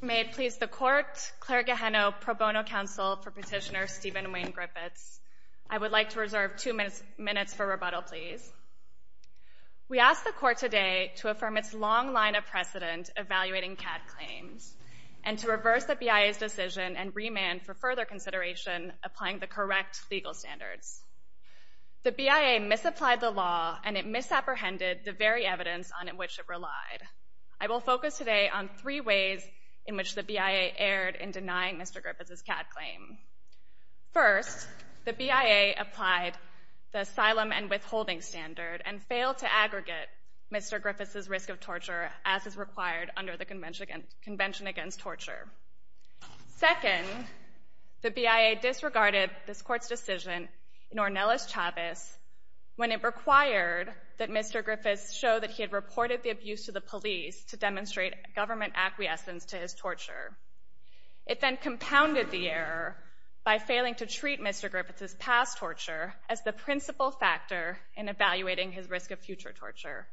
May it please the Court, Clerk Gehenno, Pro Bono Counsel for Petitioner Steven Wayne Griffiths. I would like to reserve two minutes for rebuttal, please. We ask the Court today to affirm its long line of precedent evaluating CAD claims and to reverse the BIA's decision and remand for further consideration applying the correct legal standards. The BIA misapplied the law and it misapprehended the very evidence on which it relied. I will focus today on three ways in which the BIA erred in denying Mr. Griffiths' CAD claim. First, the BIA applied the asylum and withholding standard and failed to aggregate Mr. Griffiths' risk of torture as is required under the Convention Against Torture. Second, the BIA disregarded this Court's decision in Ornelas Chavez when it required that Mr. Griffiths show that he had reported the abuse to the police to demonstrate government acquiescence to his torture. It then compounded the error by failing to treat Mr. Griffiths' past torture as the principal factor in evaluating his risk of future torture.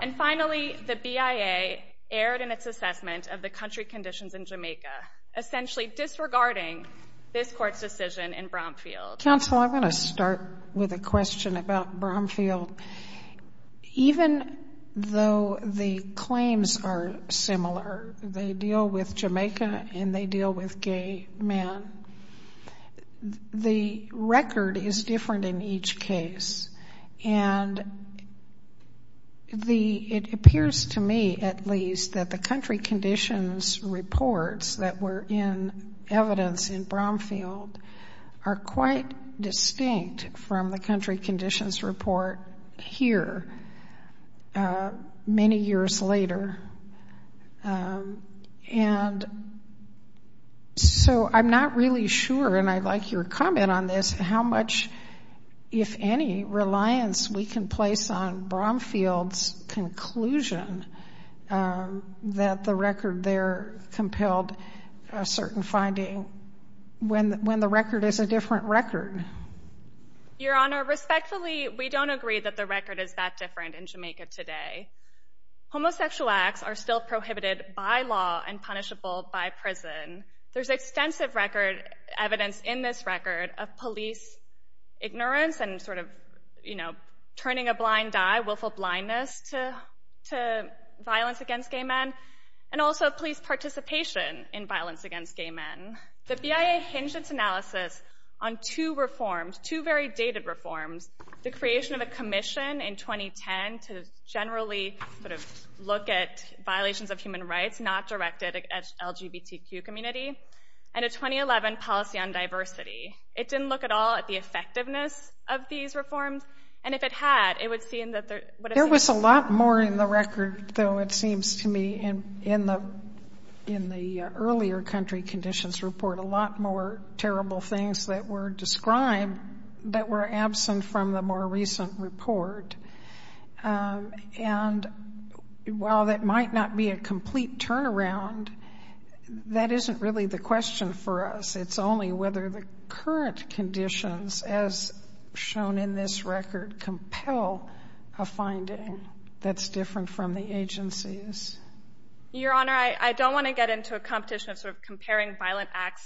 And finally, the BIA erred in its assessment of the country conditions in Jamaica, essentially disregarding this Court's decision in Bromfield. Counsel, I'm going to start with a question about Bromfield. Even though the claims are similar, they deal with Jamaica and they deal with gay men, the It appears to me, at least, that the country conditions reports that were in evidence in Bromfield are quite distinct from the country conditions report here many years later, and so I'm not really sure, and I'd like your comment on this, how much, if any, reliance we can place on Bromfield's conclusion that the record there compelled a certain finding when the record is a different record. Your Honor, respectfully, we don't agree that the record is that different in Jamaica today. Homosexual acts are still prohibited by law and punishable by prison. There's extensive record evidence in this record of police ignorance and sort of, you know, turning a blind eye, willful blindness to violence against gay men, and also of police participation in violence against gay men. The BIA hinged its analysis on two reforms, two very dated reforms, the creation of a commission in 2010 to generally sort of look at violations of human rights not directed at the LGBTQ community, and a 2011 policy on diversity. It didn't look at all at the effectiveness of these reforms, and if it had, it would seem that there would have been... There was a lot more in the record, though, it seems to me, in the earlier country conditions report, a lot more terrible things that were described that were absent from the more recent report, and while that might not be a complete turnaround, that isn't really the question for us. It's only whether the current conditions, as shown in this record, compel a finding that's different from the agency's. Your Honor, I don't want to get into a competition of sort of comparing violent acts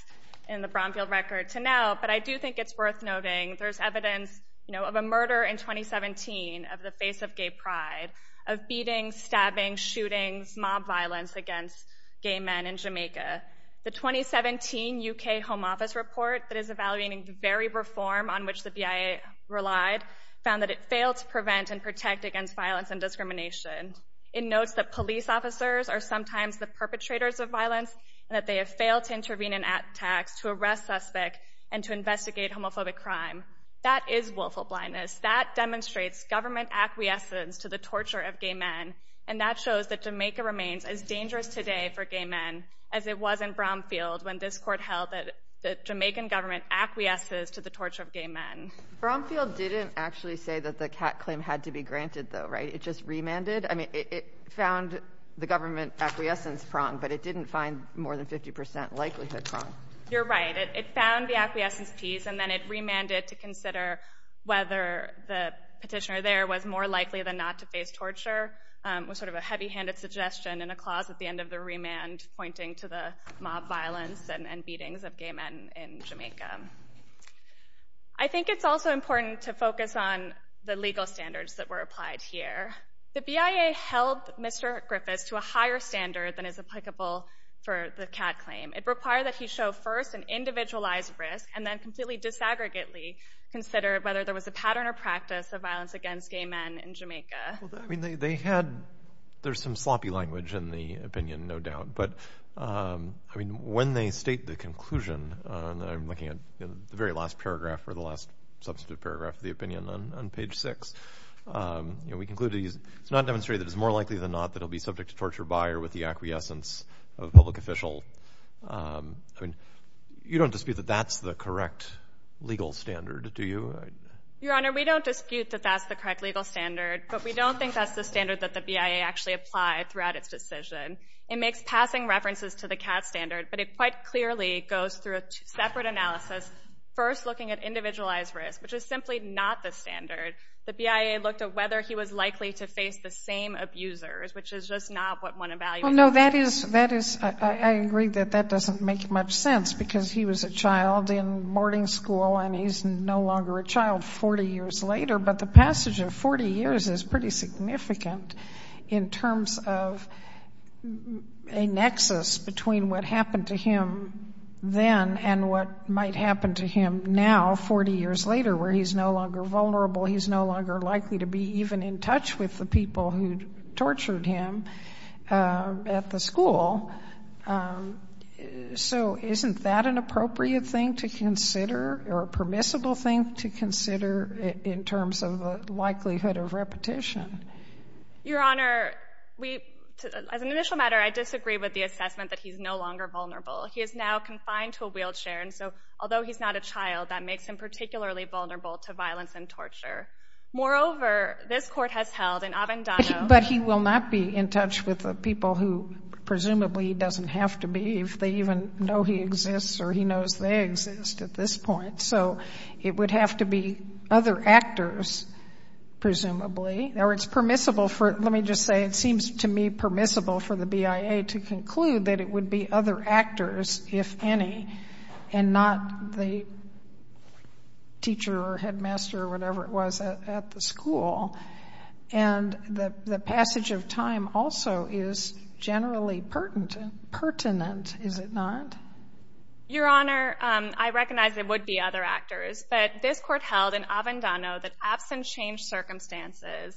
in the Bromfield record to now, but I do think it's worth noting there's evidence, you know, of a murder in 2017 of the face of gay pride, of beatings, stabbings, shootings, mob violence against gay men in Jamaica. The 2017 UK Home Office report that is evaluating the very reform on which the BIA relied found that it failed to prevent and protect against violence and discrimination. It notes that police officers are sometimes the perpetrators of violence, and that they have failed to intervene in attacks to arrest suspects and to investigate homophobic crime. That is willful blindness. That demonstrates government acquiescence to the torture of gay men, and that shows that Jamaica remains as dangerous today for gay men as it was in Bromfield when this Court held that the Jamaican government acquiesces to the torture of gay men. Bromfield didn't actually say that the CAT claim had to be granted, though, right? It just remanded? I mean, it found the government acquiescence prong, but it didn't find more than 50 percent likelihood prong. You're right. It found the acquiescence piece, and then it remanded to consider whether the petitioner there was more likely than not to face torture, was sort of a heavy-handed suggestion and a clause at the end of the remand pointing to the mob violence and beatings of gay men in Jamaica. I think it's also important to focus on the legal standards that were applied here. The BIA held Mr. Griffiths to a higher standard than is applicable for the CAT claim. It required that he show first an individualized risk and then completely disaggregately consider whether there was a pattern or practice of violence against gay men in Jamaica. Well, I mean, they had – there's some sloppy language in the opinion, no doubt. But I mean, when they state the conclusion – and I'm looking at the very last paragraph or the last substantive paragraph of the opinion on page 6 – you know, we concluded it's not demonstrated that it's more likely than not that he'll be subject to torture by with the acquiescence of a public official. You don't dispute that that's the correct legal standard, do you? Your Honor, we don't dispute that that's the correct legal standard, but we don't think that's the standard that the BIA actually applied throughout its decision. It makes passing references to the CAT standard, but it quite clearly goes through a separate analysis first looking at individualized risk, which is simply not the standard. The BIA looked at whether he was likely to face the same abusers, which is just not what Well, no, that is – that is – I agree that that doesn't make much sense because he was a child in boarding school and he's no longer a child 40 years later. But the passage of 40 years is pretty significant in terms of a nexus between what happened to him then and what might happen to him now, 40 years later, where he's no longer vulnerable, he's no longer likely to be even in touch with the people who tortured him at the school. So isn't that an appropriate thing to consider or a permissible thing to consider in terms of the likelihood of repetition? Your Honor, we – as an initial matter, I disagree with the assessment that he's no longer vulnerable. He is now confined to a wheelchair, and so although he's not a child, that makes him Moreover, this Court has held in Avendano – But he will not be in touch with the people who presumably he doesn't have to be if they even know he exists or he knows they exist at this point. So it would have to be other actors, presumably, or it's permissible for – let me just say it seems to me permissible for the BIA to conclude that it would be other actors, if any, and not the teacher or headmaster or whatever it was at the school. And the passage of time also is generally pertinent, is it not? Your Honor, I recognize it would be other actors, but this Court held in Avendano that absent changed circumstances,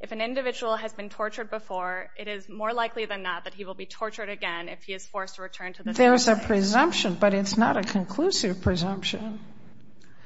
if an individual has been tortured before, it is more likely than not that he will be tortured again if he is forced to return to the school. But there's a presumption, but it's not a conclusive presumption.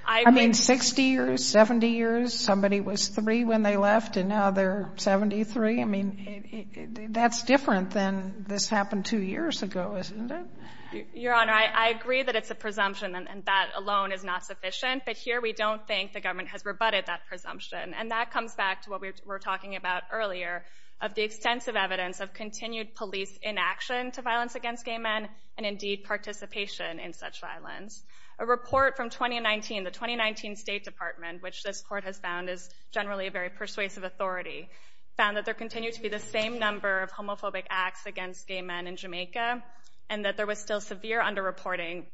I mean, 60 years, 70 years, somebody was three when they left, and now they're 73. I mean, that's different than this happened two years ago, isn't it? Your Honor, I agree that it's a presumption, and that alone is not sufficient, but here we don't think the government has rebutted that presumption. And that comes back to what we were talking about earlier, of the extensive evidence of indeed participation in such violence. A report from 2019, the 2019 State Department, which this Court has found is generally a very persuasive authority, found that there continued to be the same number of homophobic acts against gay men in Jamaica, and that there was still severe underreporting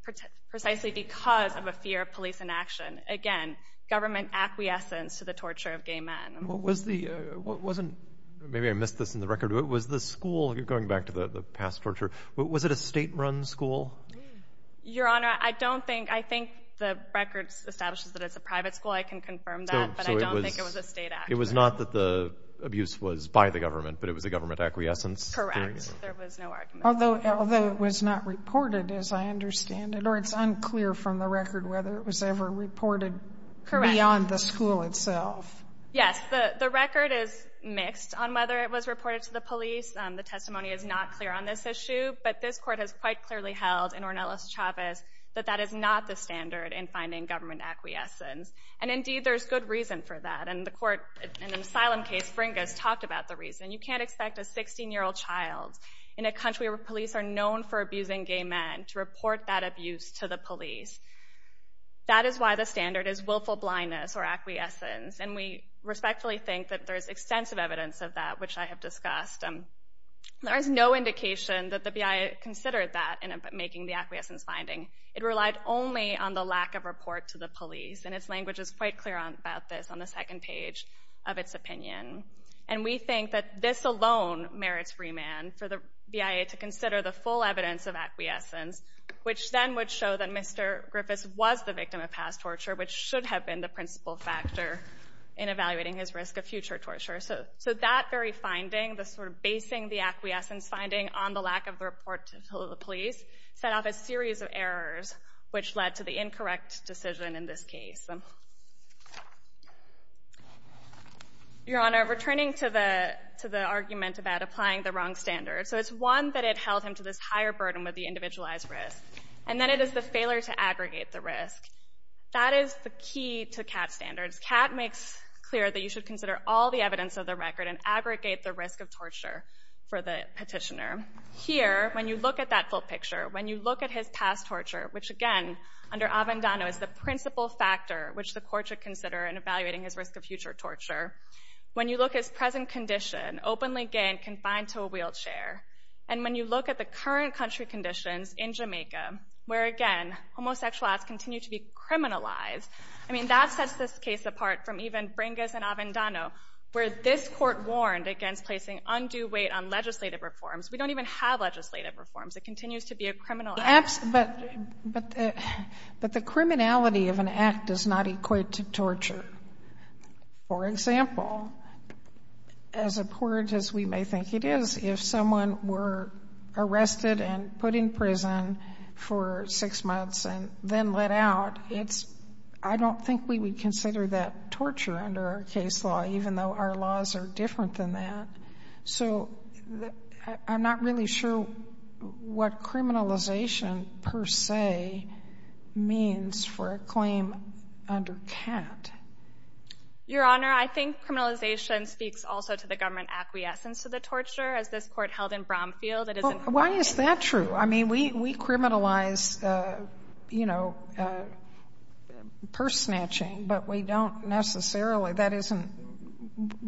precisely because of a fear of police inaction, again, government acquiescence to the torture of gay men. Maybe I missed this in the record, but was the school, going back to the past torture, was it a state-run school? Your Honor, I don't think, I think the record establishes that it's a private school. I can confirm that, but I don't think it was a state act. It was not that the abuse was by the government, but it was a government acquiescence? Correct. There was no argument. Although it was not reported, as I understand it, or it's unclear from the record whether it was ever reported beyond the school itself. Yes, the record is mixed on whether it was reported to the police. The testimony is not clear on this issue, but this Court has quite clearly held in Ornelas Chavez that that is not the standard in finding government acquiescence. And indeed, there's good reason for that, and the Court, in an asylum case, Fringas talked about the reason. You can't expect a 16-year-old child in a country where police are known for abusing gay men to report that abuse to the police. That is why the standard is willful blindness or acquiescence, and we respectfully think that there is extensive evidence of that, which I have discussed. There is no indication that the BIA considered that in making the acquiescence finding. It relied only on the lack of report to the police, and its language is quite clear about this on the second page of its opinion. And we think that this alone merits remand for the BIA to consider the full evidence of acquiescence, which then would show that Mr. Griffiths was the victim of past torture, which should have been the principal factor in evaluating his risk of future torture. So that very finding, the sort of basing the acquiescence finding on the lack of the report to the police, set off a series of errors, which led to the incorrect decision in this case. Your Honor, returning to the argument about applying the wrong standard, so it's one that it held him to this higher burden with the individualized risk, and then it is the failure to aggregate the risk. That is the key to Catt's standards. Catt makes clear that you should consider all the evidence of the record and aggregate the risk of torture for the petitioner. Here, when you look at that full picture, when you look at his past torture, which again, under Avendano, is the principal factor which the court should consider in evaluating his risk of future torture. When you look at his present condition, openly gay and confined to a wheelchair, and when you look at the current country conditions in Jamaica, where again, homosexual acts continue to be criminalized, I mean, that sets this case apart from even Bringas and Avendano, where this court warned against placing undue weight on legislative reforms. We don't even have legislative reforms. It continues to be a criminal act. But the criminality of an act does not equate to torture. For example, as abhorrent as we may think it is, if someone were arrested and put in I don't think we would consider that torture under our case law, even though our laws are different than that. So I'm not really sure what criminalization per se means for a claim under Catt. Your Honor, I think criminalization speaks also to the government acquiescence to the torture, as this court held in Bromfield. Why is that true? I mean, we criminalize, you know, purse snatching, but we don't necessarily that isn't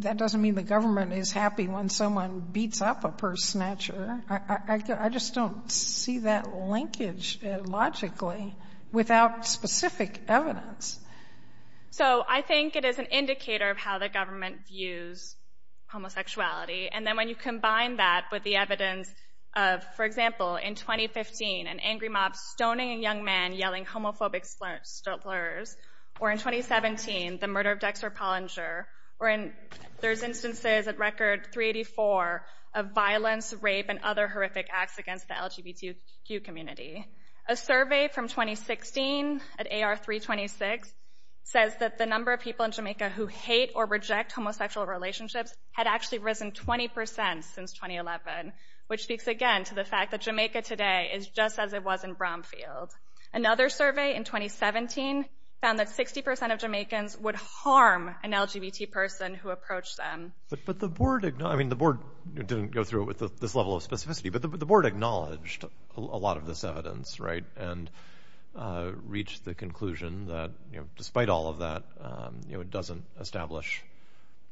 that doesn't mean the government is happy when someone beats up a purse snatcher. I just don't see that linkage logically without specific evidence. So I think it is an indicator of how the government views homosexuality. And then when you combine that with the evidence of, for example, in 2015, an angry mob stoning a young man yelling homophobic slurs, or in 2017, the murder of Dexter Pollinger, or there's instances at Record 384 of violence, rape, and other horrific acts against the LGBTQ community. A survey from 2016 at AR 326 says that the number of people in Jamaica who hate or reject homosexual relationships had actually risen 20% since 2011, which speaks again to the fact that Jamaica today is just as it was in Bromfield. Another survey in 2017 found that 60% of Jamaicans would harm an LGBT person who approached them. But the board, I mean, the board didn't go through with this level of specificity, but the board acknowledged a lot of this evidence, right, and reached the conclusion that despite all of that, you know, it doesn't establish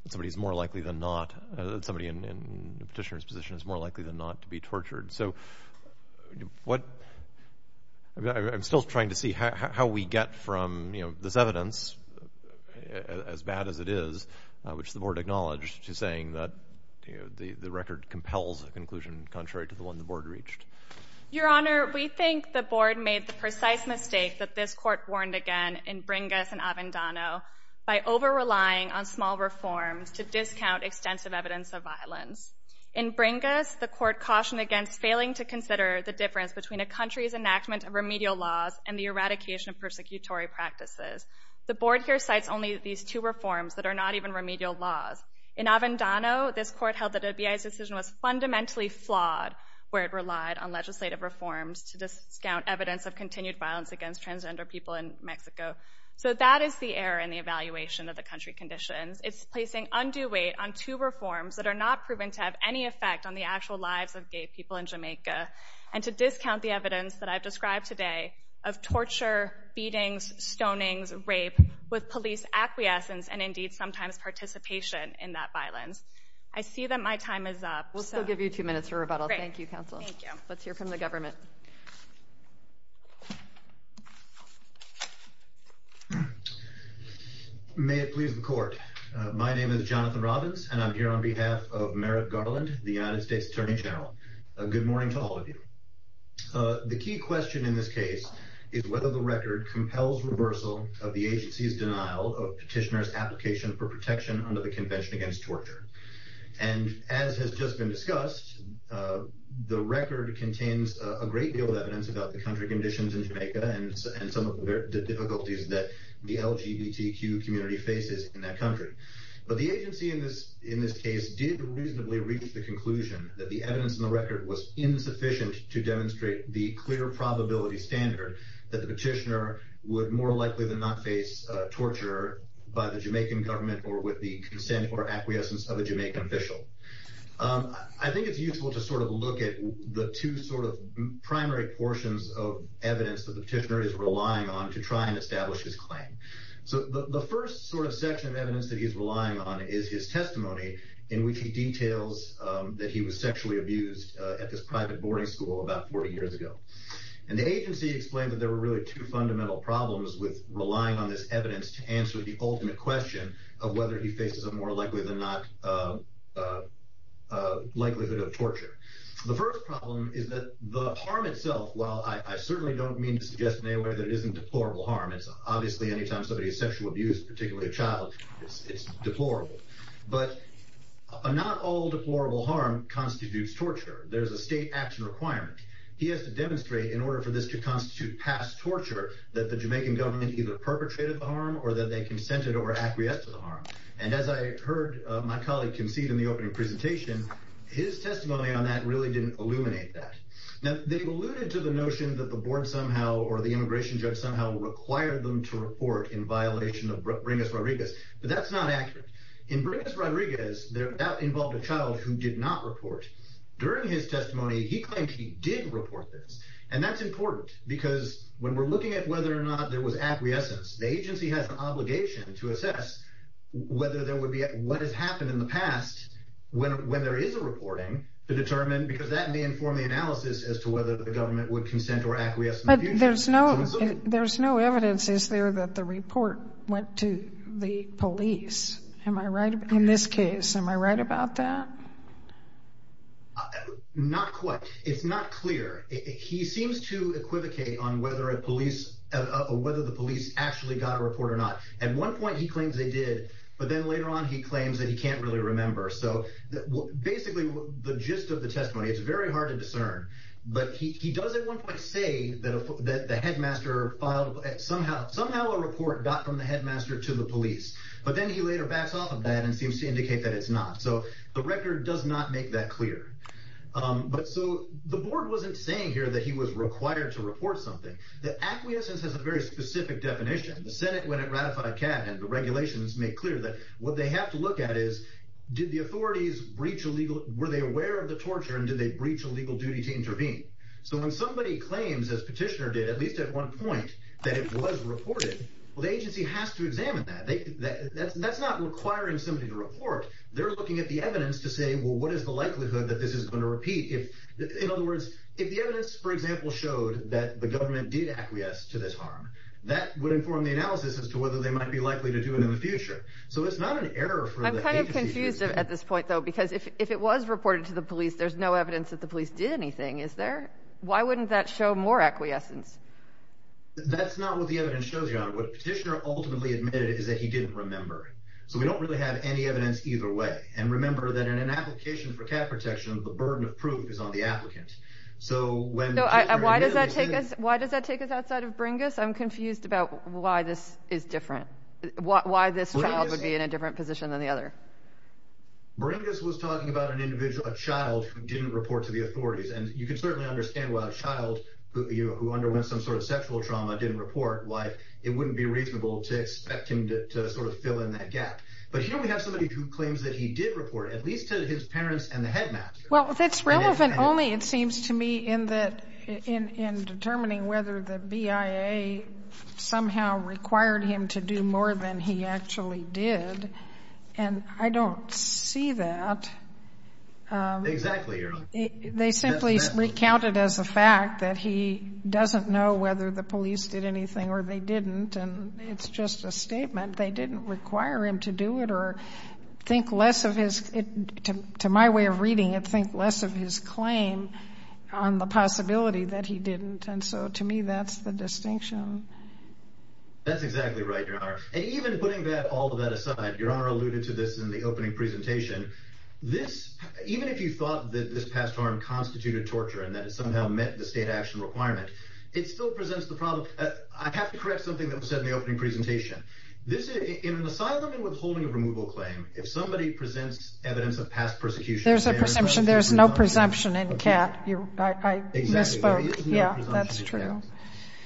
that somebody is more likely than not, that somebody in a petitioner's position is more likely than not to be tortured. So what, I mean, I'm still trying to see how we get from, you know, this evidence, as bad as it is, which the board acknowledged, to saying that, you know, the record compels a conclusion contrary to the one the board reached. Your Honor, we think the board made the precise mistake that this court warned again in bringing us in Avendano by over-relying on small reforms to discount extensive evidence of violence. In Bringas, the court cautioned against failing to consider the difference between a country's enactment of remedial laws and the eradication of persecutory practices. The board here cites only these two reforms that are not even remedial laws. In Avendano, this court held that the BIA's decision was fundamentally flawed where it relied on legislative reforms to discount evidence of continued violence against transgender people in Mexico. So that is the error in the evaluation of the country conditions. It's placing undue weight on two reforms that are not proven to have any effect on the actual lives of gay people in Jamaica, and to discount the evidence that I've described today of torture, beatings, stonings, rape, with police acquiescence and indeed sometimes participation in that violence. I see that my time is up. We'll still give you two minutes for rebuttal. Great. Thank you, counsel. Thank you. Let's hear from the government. May it please the court. My name is Jonathan Robbins, and I'm here on behalf of Merritt Garland, the United States Attorney General. Good morning to all of you. The key question in this case is whether the record compels reversal of the agency's denial of petitioner's application for protection under the Convention Against Torture. And as has just been discussed, the record contains a great deal of evidence about the difficulties that the LGBTQ community faces in that country. But the agency in this case did reasonably reach the conclusion that the evidence in the record was insufficient to demonstrate the clear probability standard that the petitioner would more likely than not face torture by the Jamaican government or with the consent or acquiescence of a Jamaican official. I think it's useful to sort of look at the two sort of primary portions of evidence that establish his claim. So the first sort of section of evidence that he's relying on is his testimony in which he details that he was sexually abused at this private boarding school about 40 years ago. And the agency explained that there were really two fundamental problems with relying on this evidence to answer the ultimate question of whether he faces a more likely than not likelihood of torture. The first problem is that the harm itself, while I certainly don't mean to suggest in deplorable harm, it's obviously any time somebody is sexually abused, particularly a child, it's deplorable. But not all deplorable harm constitutes torture. There's a state action requirement. He has to demonstrate in order for this to constitute past torture that the Jamaican government either perpetrated the harm or that they consented or acquiesced to the harm. And as I heard my colleague concede in the opening presentation, his testimony on that really didn't illuminate that. Now, they alluded to the notion that the board somehow or the immigration judge somehow required them to report in violation of Bringus-Rodriguez, but that's not accurate. In Bringus-Rodriguez, that involved a child who did not report. During his testimony, he claimed he did report this. And that's important because when we're looking at whether or not there was acquiescence, the agency has an obligation to assess whether there would be—what has happened in the process as to whether the government would consent or acquiesce in the future. But there's no evidence, is there, that the report went to the police, in this case. Am I right about that? Not quite. It's not clear. He seems to equivocate on whether the police actually got a report or not. At one point he claims they did, but then later on he claims that he can't really remember. So, basically, the gist of the testimony, it's very hard to discern. But he does at one point say that the headmaster filed—somehow a report got from the headmaster to the police. But then he later backs off of that and seems to indicate that it's not. So the record does not make that clear. But so, the board wasn't saying here that he was required to report something. The acquiescence has a very specific definition. The Senate, when it ratified CAD, and the regulations make clear that what they have to look at is, did the authorities—were they aware of the torture and did they breach a legal duty to intervene? So when somebody claims, as Petitioner did, at least at one point, that it was reported, well, the agency has to examine that. That's not requiring somebody to report. They're looking at the evidence to say, well, what is the likelihood that this is going to repeat? In other words, if the evidence, for example, showed that the government did acquiesce to this harm, that would inform the analysis as to whether they might be likely to do it in the future. So it's not an error for the agency— I'm kind of confused at this point, though, because if it was reported to the police, there's no evidence that the police did anything, is there? Why wouldn't that show more acquiescence? That's not what the evidence shows, Your Honor. What Petitioner ultimately admitted is that he didn't remember. So we don't really have any evidence either way. And remember that in an application for cat protection, the burden of proof is on the applicant. So when— So why does that take us—why does that take us outside of Bringus? I'm confused about why this is different. Why this child would be in a different position than the other. Bringus was talking about an individual, a child, who didn't report to the authorities. And you can certainly understand why a child who underwent some sort of sexual trauma didn't report, why it wouldn't be reasonable to expect him to sort of fill in that gap. But here we have somebody who claims that he did report, at least to his parents and the headmaster. Well, that's relevant only, it seems to me, in determining whether the BIA somehow required him to do more than he actually did. And I don't see that. Exactly, Your Honor. They simply recounted as a fact that he doesn't know whether the police did anything or they didn't. And it's just a statement. They didn't require him to do it or think less of his—to my way of reading it, think less of his claim on the possibility that he didn't. And so to me, that's the distinction. That's exactly right, Your Honor. And even putting all of that aside, Your Honor alluded to this in the opening presentation. This, even if you thought that this past harm constituted torture and that it somehow met the state action requirement, it still presents the problem—I have to correct something that was said in the opening presentation. In an asylum and withholding of removal claim, if somebody presents evidence of past persecution— There's a presumption. There's no presumption in CAT. I misspoke. Yeah, that's true.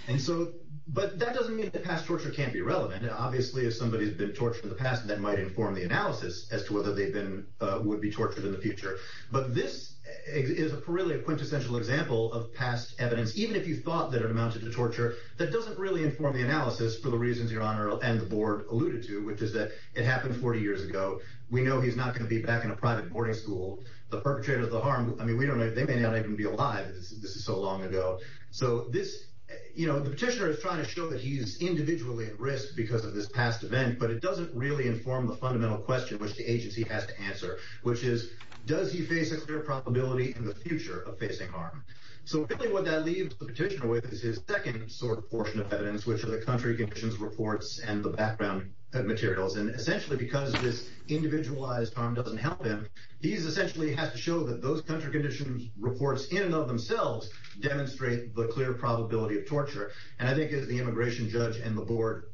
And so—but that doesn't mean that past torture can't be relevant. Obviously, if somebody's been tortured in the past, that might inform the analysis as to whether they've been—would be tortured in the future. But this is really a quintessential example of past evidence, even if you thought that it amounted to torture, that doesn't really inform the analysis for the reasons Your Honor and the Board alluded to, which is that it happened 40 years ago. We know he's not going to be back in a private boarding school. The perpetrator of the harm—I mean, we don't know—they may not even be alive. This is so long ago. So this—you know, the petitioner is trying to show that he's individually at risk because of this past event, but it doesn't really inform the fundamental question which the agency has to answer, which is, does he face a clear probability in the future of facing harm? So really what that leaves the petitioner with is his second sort of portion of evidence, which are the country conditions reports and the background materials. And essentially, because this individualized harm doesn't help him, he essentially has to show that those country conditions reports in and of themselves demonstrate the clear probability of torture. And I think as the immigration judge and the Board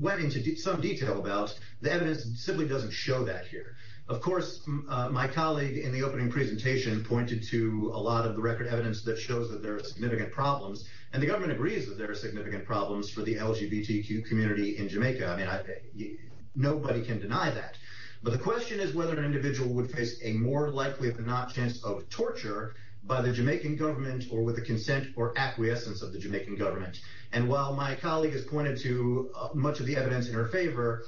went into some detail about, the evidence simply doesn't show that here. Of course, my colleague in the opening presentation pointed to a lot of the record evidence that shows that there are significant problems, and the government agrees that there are significant problems for the LGBTQ community in Jamaica. I mean, nobody can deny that. But the question is whether an individual would face a more likely if not chance of torture by the Jamaican government or with the consent or acquiescence of the Jamaican government. And while my colleague has pointed to much of the evidence in her favor,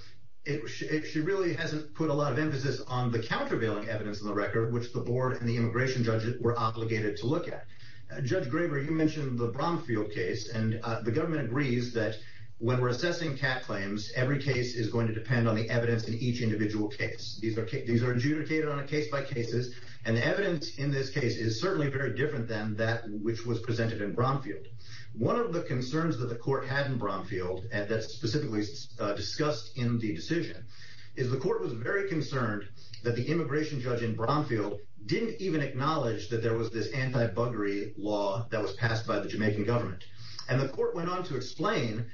she really hasn't put a lot of emphasis on the countervailing evidence in the record, which the Board and the immigration judges were obligated to look at. Judge Graber, you mentioned the Bromfield case, and the government agrees that when These are adjudicated on a case by case, and the evidence in this case is certainly very different than that which was presented in Bromfield. One of the concerns that the court had in Bromfield, and that's specifically discussed in the decision, is the court was very concerned that the immigration judge in Bromfield didn't even acknowledge that there was this anti-buggery law that was passed by the Jamaican government. And the court went on to explain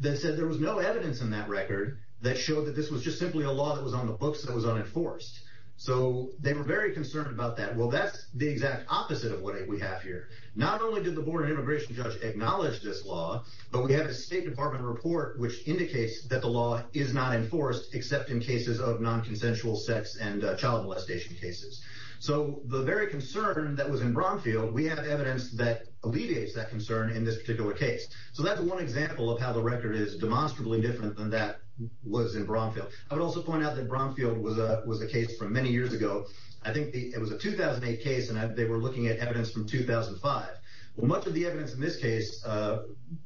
that there was no evidence in that record that showed that this was just simply a law that was on the books that was unenforced. So, they were very concerned about that. Well, that's the exact opposite of what we have here. Not only did the Board and immigration judge acknowledge this law, but we have a State Department report which indicates that the law is not enforced except in cases of non-consensual sex and child molestation cases. So, the very concern that was in Bromfield, we have evidence that alleviates that concern in this particular case. So, that's one example of how the record is demonstrably different than that was in Bromfield. I would also point out that Bromfield was a case from many years ago. I think it was a 2008 case, and they were looking at evidence from 2005. Well, much of the evidence in this case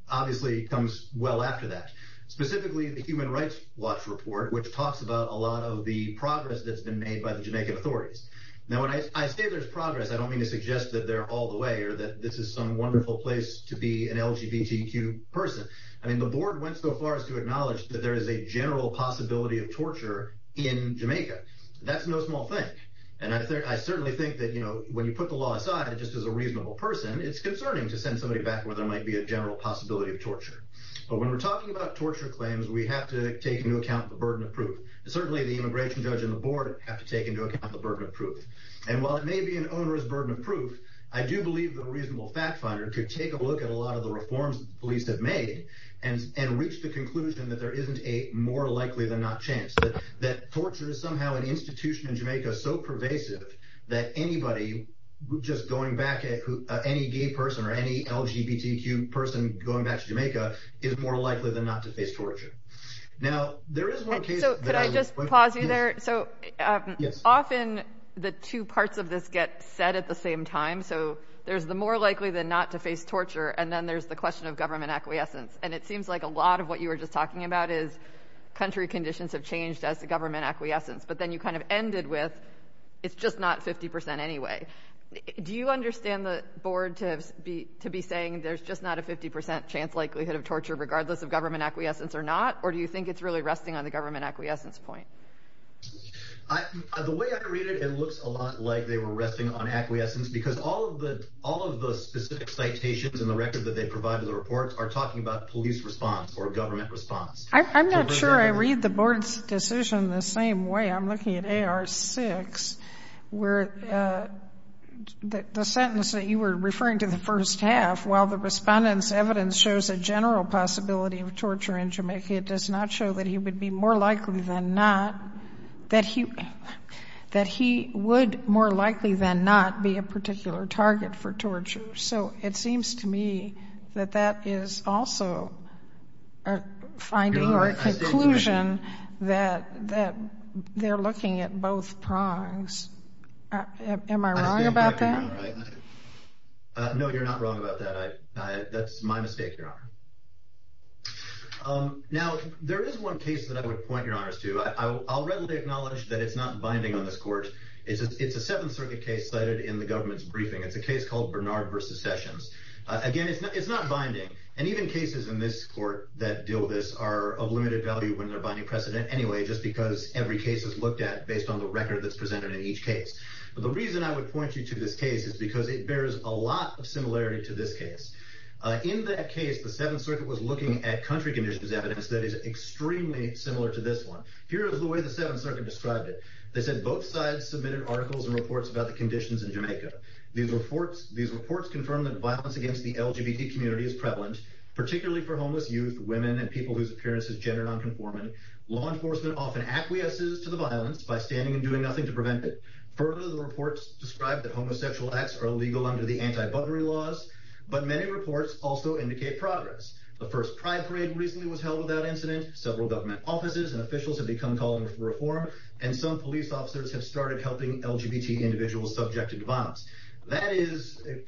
obviously comes well after that. Specifically, the Human Rights Watch report, which talks about a lot of the progress that's been made by the Jamaican authorities. Now, when I say there's progress, I don't mean to suggest that they're all the way, or that this is some wonderful place to be an LGBTQ person. I mean, the Board went so far as to acknowledge that there is a general possibility of torture in Jamaica. That's no small thing. And I certainly think that, you know, when you put the law aside just as a reasonable person, it's concerning to send somebody back where there might be a general possibility of torture. But when we're talking about torture claims, we have to take into account the burden of proof. Certainly, the immigration judge and the Board have to take into account the burden of proof. And while it may be an onerous burden of proof, I do believe that a reasonable fact-finder could take a look at a lot of the reforms that the police have made and reach the conclusion that there isn't a more likely-than-not chance. That torture is somehow an institution in Jamaica so pervasive that anybody just going back, any gay person or any LGBTQ person going back to Jamaica is more likely than not to face torture. Now, there is one case that I would— Yes. Often, the two parts of this get said at the same time. So there's the more likely-than-not-to-face torture and then there's the question of government acquiescence. And it seems like a lot of what you were just talking about is country conditions have changed as to government acquiescence. But then you kind of ended with it's just not 50 percent anyway. Do you understand the Board to be saying there's just not a 50 percent chance likelihood of torture regardless of government acquiescence or not? Or do you think it's really resting on the government acquiescence point? The way I read it, it looks a lot like they were resting on acquiescence because all of the specific citations in the record that they provide in the report are talking about police response or government response. I'm not sure I read the Board's decision the same way. I'm looking at AR-6 where the sentence that you were referring to, the first half, while the respondent's evidence shows a general possibility of torture in Jamaica, it does not show that he would be more likely than not, that he would more likely than not be a particular target for torture. So it seems to me that that is also a finding or a conclusion that they're looking at both prongs. Am I wrong about that? No, you're not wrong about that. That's my mistake, Your Honor. Now, there is one case that I would point, Your Honor, to. I'll readily acknowledge that it's not binding on this Court. It's a Seventh Circuit case cited in the government's briefing. It's a case called Bernard v. Sessions. Again, it's not binding. And even cases in this Court that deal with this are of limited value when they're binding precedent anyway just because every case is looked at based on the record that's presented in each case. But the reason I would point you to this case is because it bears a lot of similarity to this case. In that case, the Seventh Circuit was looking at country conditions evidence that is extremely similar to this one. Here is the way the Seventh Circuit described it. They said, The First Pride Parade recently was held without incident. Several government offices and officials have become calling for reform, and some police officers have started helping LGBT individuals subjected to violence. That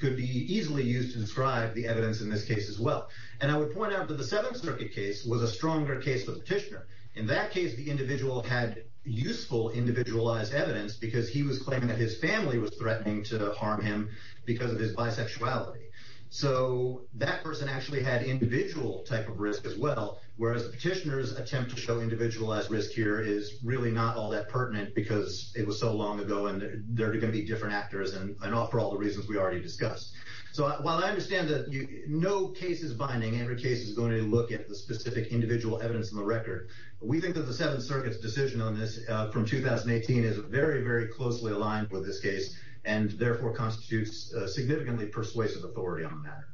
could be easily used to describe the evidence in this case as well. And I would point out that the Seventh Circuit case was a stronger case for the petitioner. In that case, the individual had useful individualized evidence because he was claiming that his family was threatening to harm him because of his bisexuality. So, that person actually had individual type of risk as well, whereas the petitioner's attempt to show individualized risk here is really not all that pertinent because it was so long ago and there are going to be different actors and all for all the reasons we already discussed. So, while I understand that no case is binding, every case is going to look at the specific individual evidence in the record, we think that the Seventh Circuit's decision on this from 2018 is very, very closely aligned with this case and therefore constitutes significantly persuasive authority on the matter.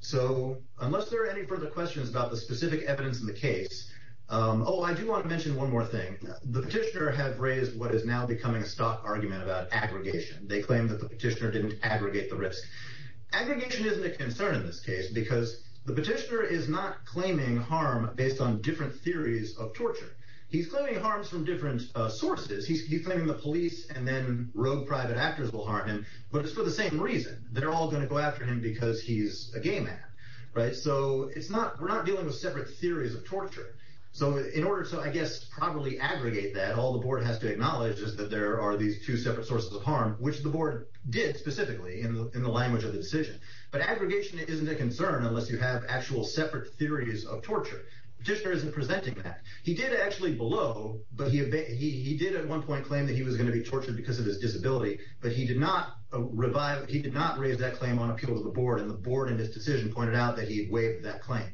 So, unless there are any further questions about the specific evidence in the case, oh, I do want to mention one more thing. The petitioner had raised what is now becoming a stock argument about aggregation. They claim that the petitioner didn't aggregate the risk. Aggregation isn't a concern in this case because the petitioner is not claiming harm based on different theories of torture. He's claiming harms from different sources. He's claiming the police and then rogue private actors will harm him, but it's for the same reason. They're all going to go after him because he's a gay man, right? So, we're not dealing with separate theories of torture. So, in order to, I guess, properly aggregate that, all the board has to acknowledge is that there are these two separate sources of harm, which the board did specifically in the language of the decision. But aggregation isn't a concern unless you have actual separate theories of torture. The petitioner isn't presenting that. He did actually below, but he did at one point claim that he was going to be tortured because of his disability, but he did not raise that claim on appeal to the board, and the board in his decision pointed out that he had waived that claim.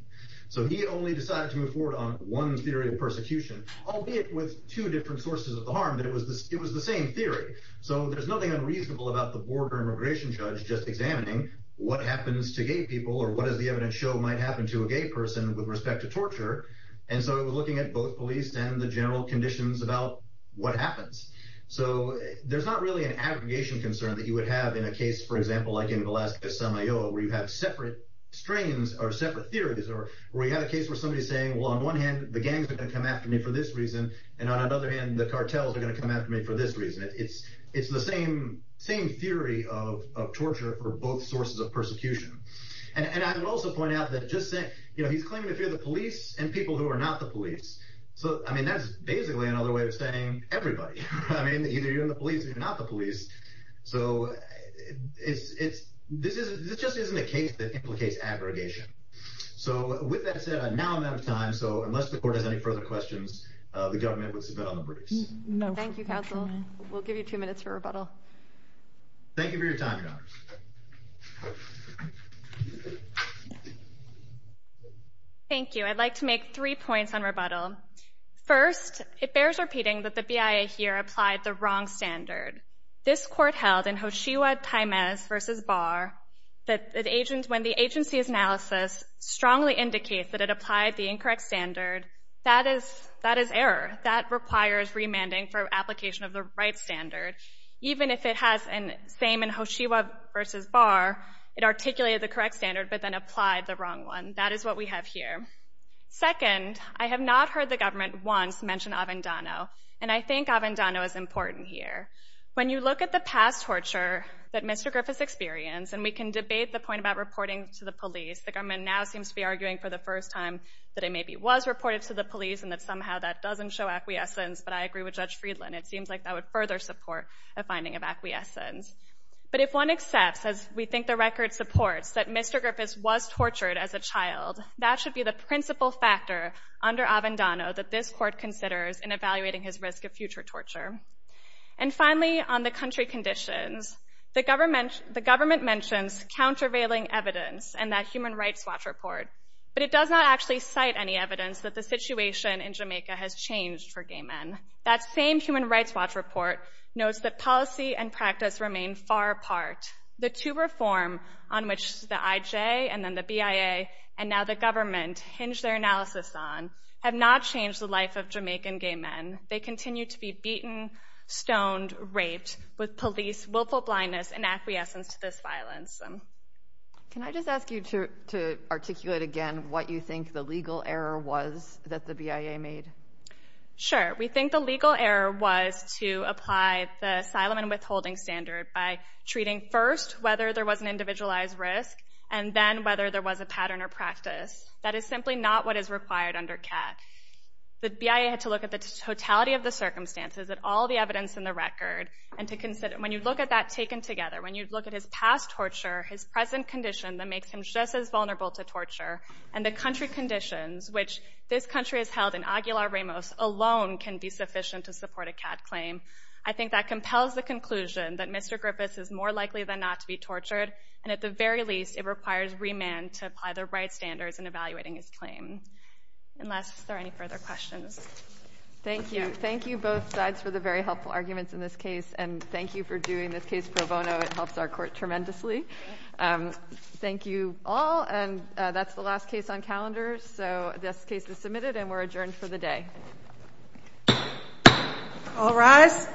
So, he only decided to move forward on one theory of persecution, albeit with two different sources of harm, but it was the same theory. So, there's nothing unreasonable about the board or immigration judge just examining what happens to gay people or what does the evidence show might happen to a gay person with respect to torture. And so, it was looking at both police and the general conditions about what happens. So, there's not really an aggregation concern that you would have in a case, for example, like in Velasquez, San Mayo, where you have separate strains or separate theories or where you have a case where somebody's saying, well, on one hand, the gangs are going to come after me for this reason, and on another hand, the cartels are going to come after me for this reason. It's the same theory of torture for both sources of persecution. And I would also point out that just saying, you know, he's claiming to fear the police and people who are not the police. So, I mean, that's basically another way of saying everybody. I mean, either you're in the police or you're not the police. So, this just isn't a case that implicates aggregation. So, with that said, now I'm out of time. So, unless the court has any further questions, the government would submit on the briefs. Thank you, counsel. Thank you for your time, your honors. Thank you. I'd like to make three points on rebuttal. First, it bears repeating that the BIA here applied the wrong standard. This court held in Hoshiwa-Taimez v. Barr that when the agency's analysis strongly indicates that it applied the incorrect standard, that is error. That requires remanding for application of the right standard. Even if it has the same in Hoshiwa v. Barr, it articulated the correct standard but then applied the wrong one. That is what we have here. Second, I have not heard the government once mention Avendano. And I think Avendano is important here. When you look at the past torture that Mr. Griffiths experienced, and we can debate the point about reporting to the police, the government now seems to be arguing for the first time that it maybe was reported to the police and that somehow that doesn't show acquiescence. But I agree with Judge Friedland. It seems like that would further support a finding of acquiescence. But if one accepts, as we think the record supports, that Mr. Griffiths was tortured as a child, that should be the principal factor under Avendano that this court considers in evaluating his risk of future torture. And finally, on the country conditions, the government mentions countervailing evidence and that Human Rights Watch report, but it does not actually cite any evidence that the situation in Jamaica has changed for gay men. That same Human Rights Watch report notes that policy and practice remain far apart. The two reform on which the IJ and then the BIA and now the government hinge their analysis on have not changed the life of Jamaican gay men. They continue to be beaten, stoned, raped with police willful blindness and acquiescence to this violence. Can I just ask you to articulate again what you think the legal error was that the BIA made? Sure. We think the legal error was to apply the asylum and withholding standard by treating first whether there was an individualized risk and then whether there was a pattern or practice. That is simply not what is required under CAT. The BIA had to look at the totality of the circumstances, at all the evidence in the record, and to consider when you look at that taken together, when you look at his past torture, his present condition that makes him just as vulnerable to torture, and the country conditions which this country has held in Aguilar Ramos alone can be sufficient to support a CAT claim. I think that compels the conclusion that Mr. Griffiths is more likely than not to be tortured, and at the very least it requires remand to apply the right standards in evaluating his claim. Unless there are any further questions. Thank you. Thank you both sides for the very helpful arguments in this case, and thank you for doing this case pro bono. It helps our court tremendously. Thank you all, and that's the last case on calendar. So this case is submitted and we're adjourned for the day. All rise.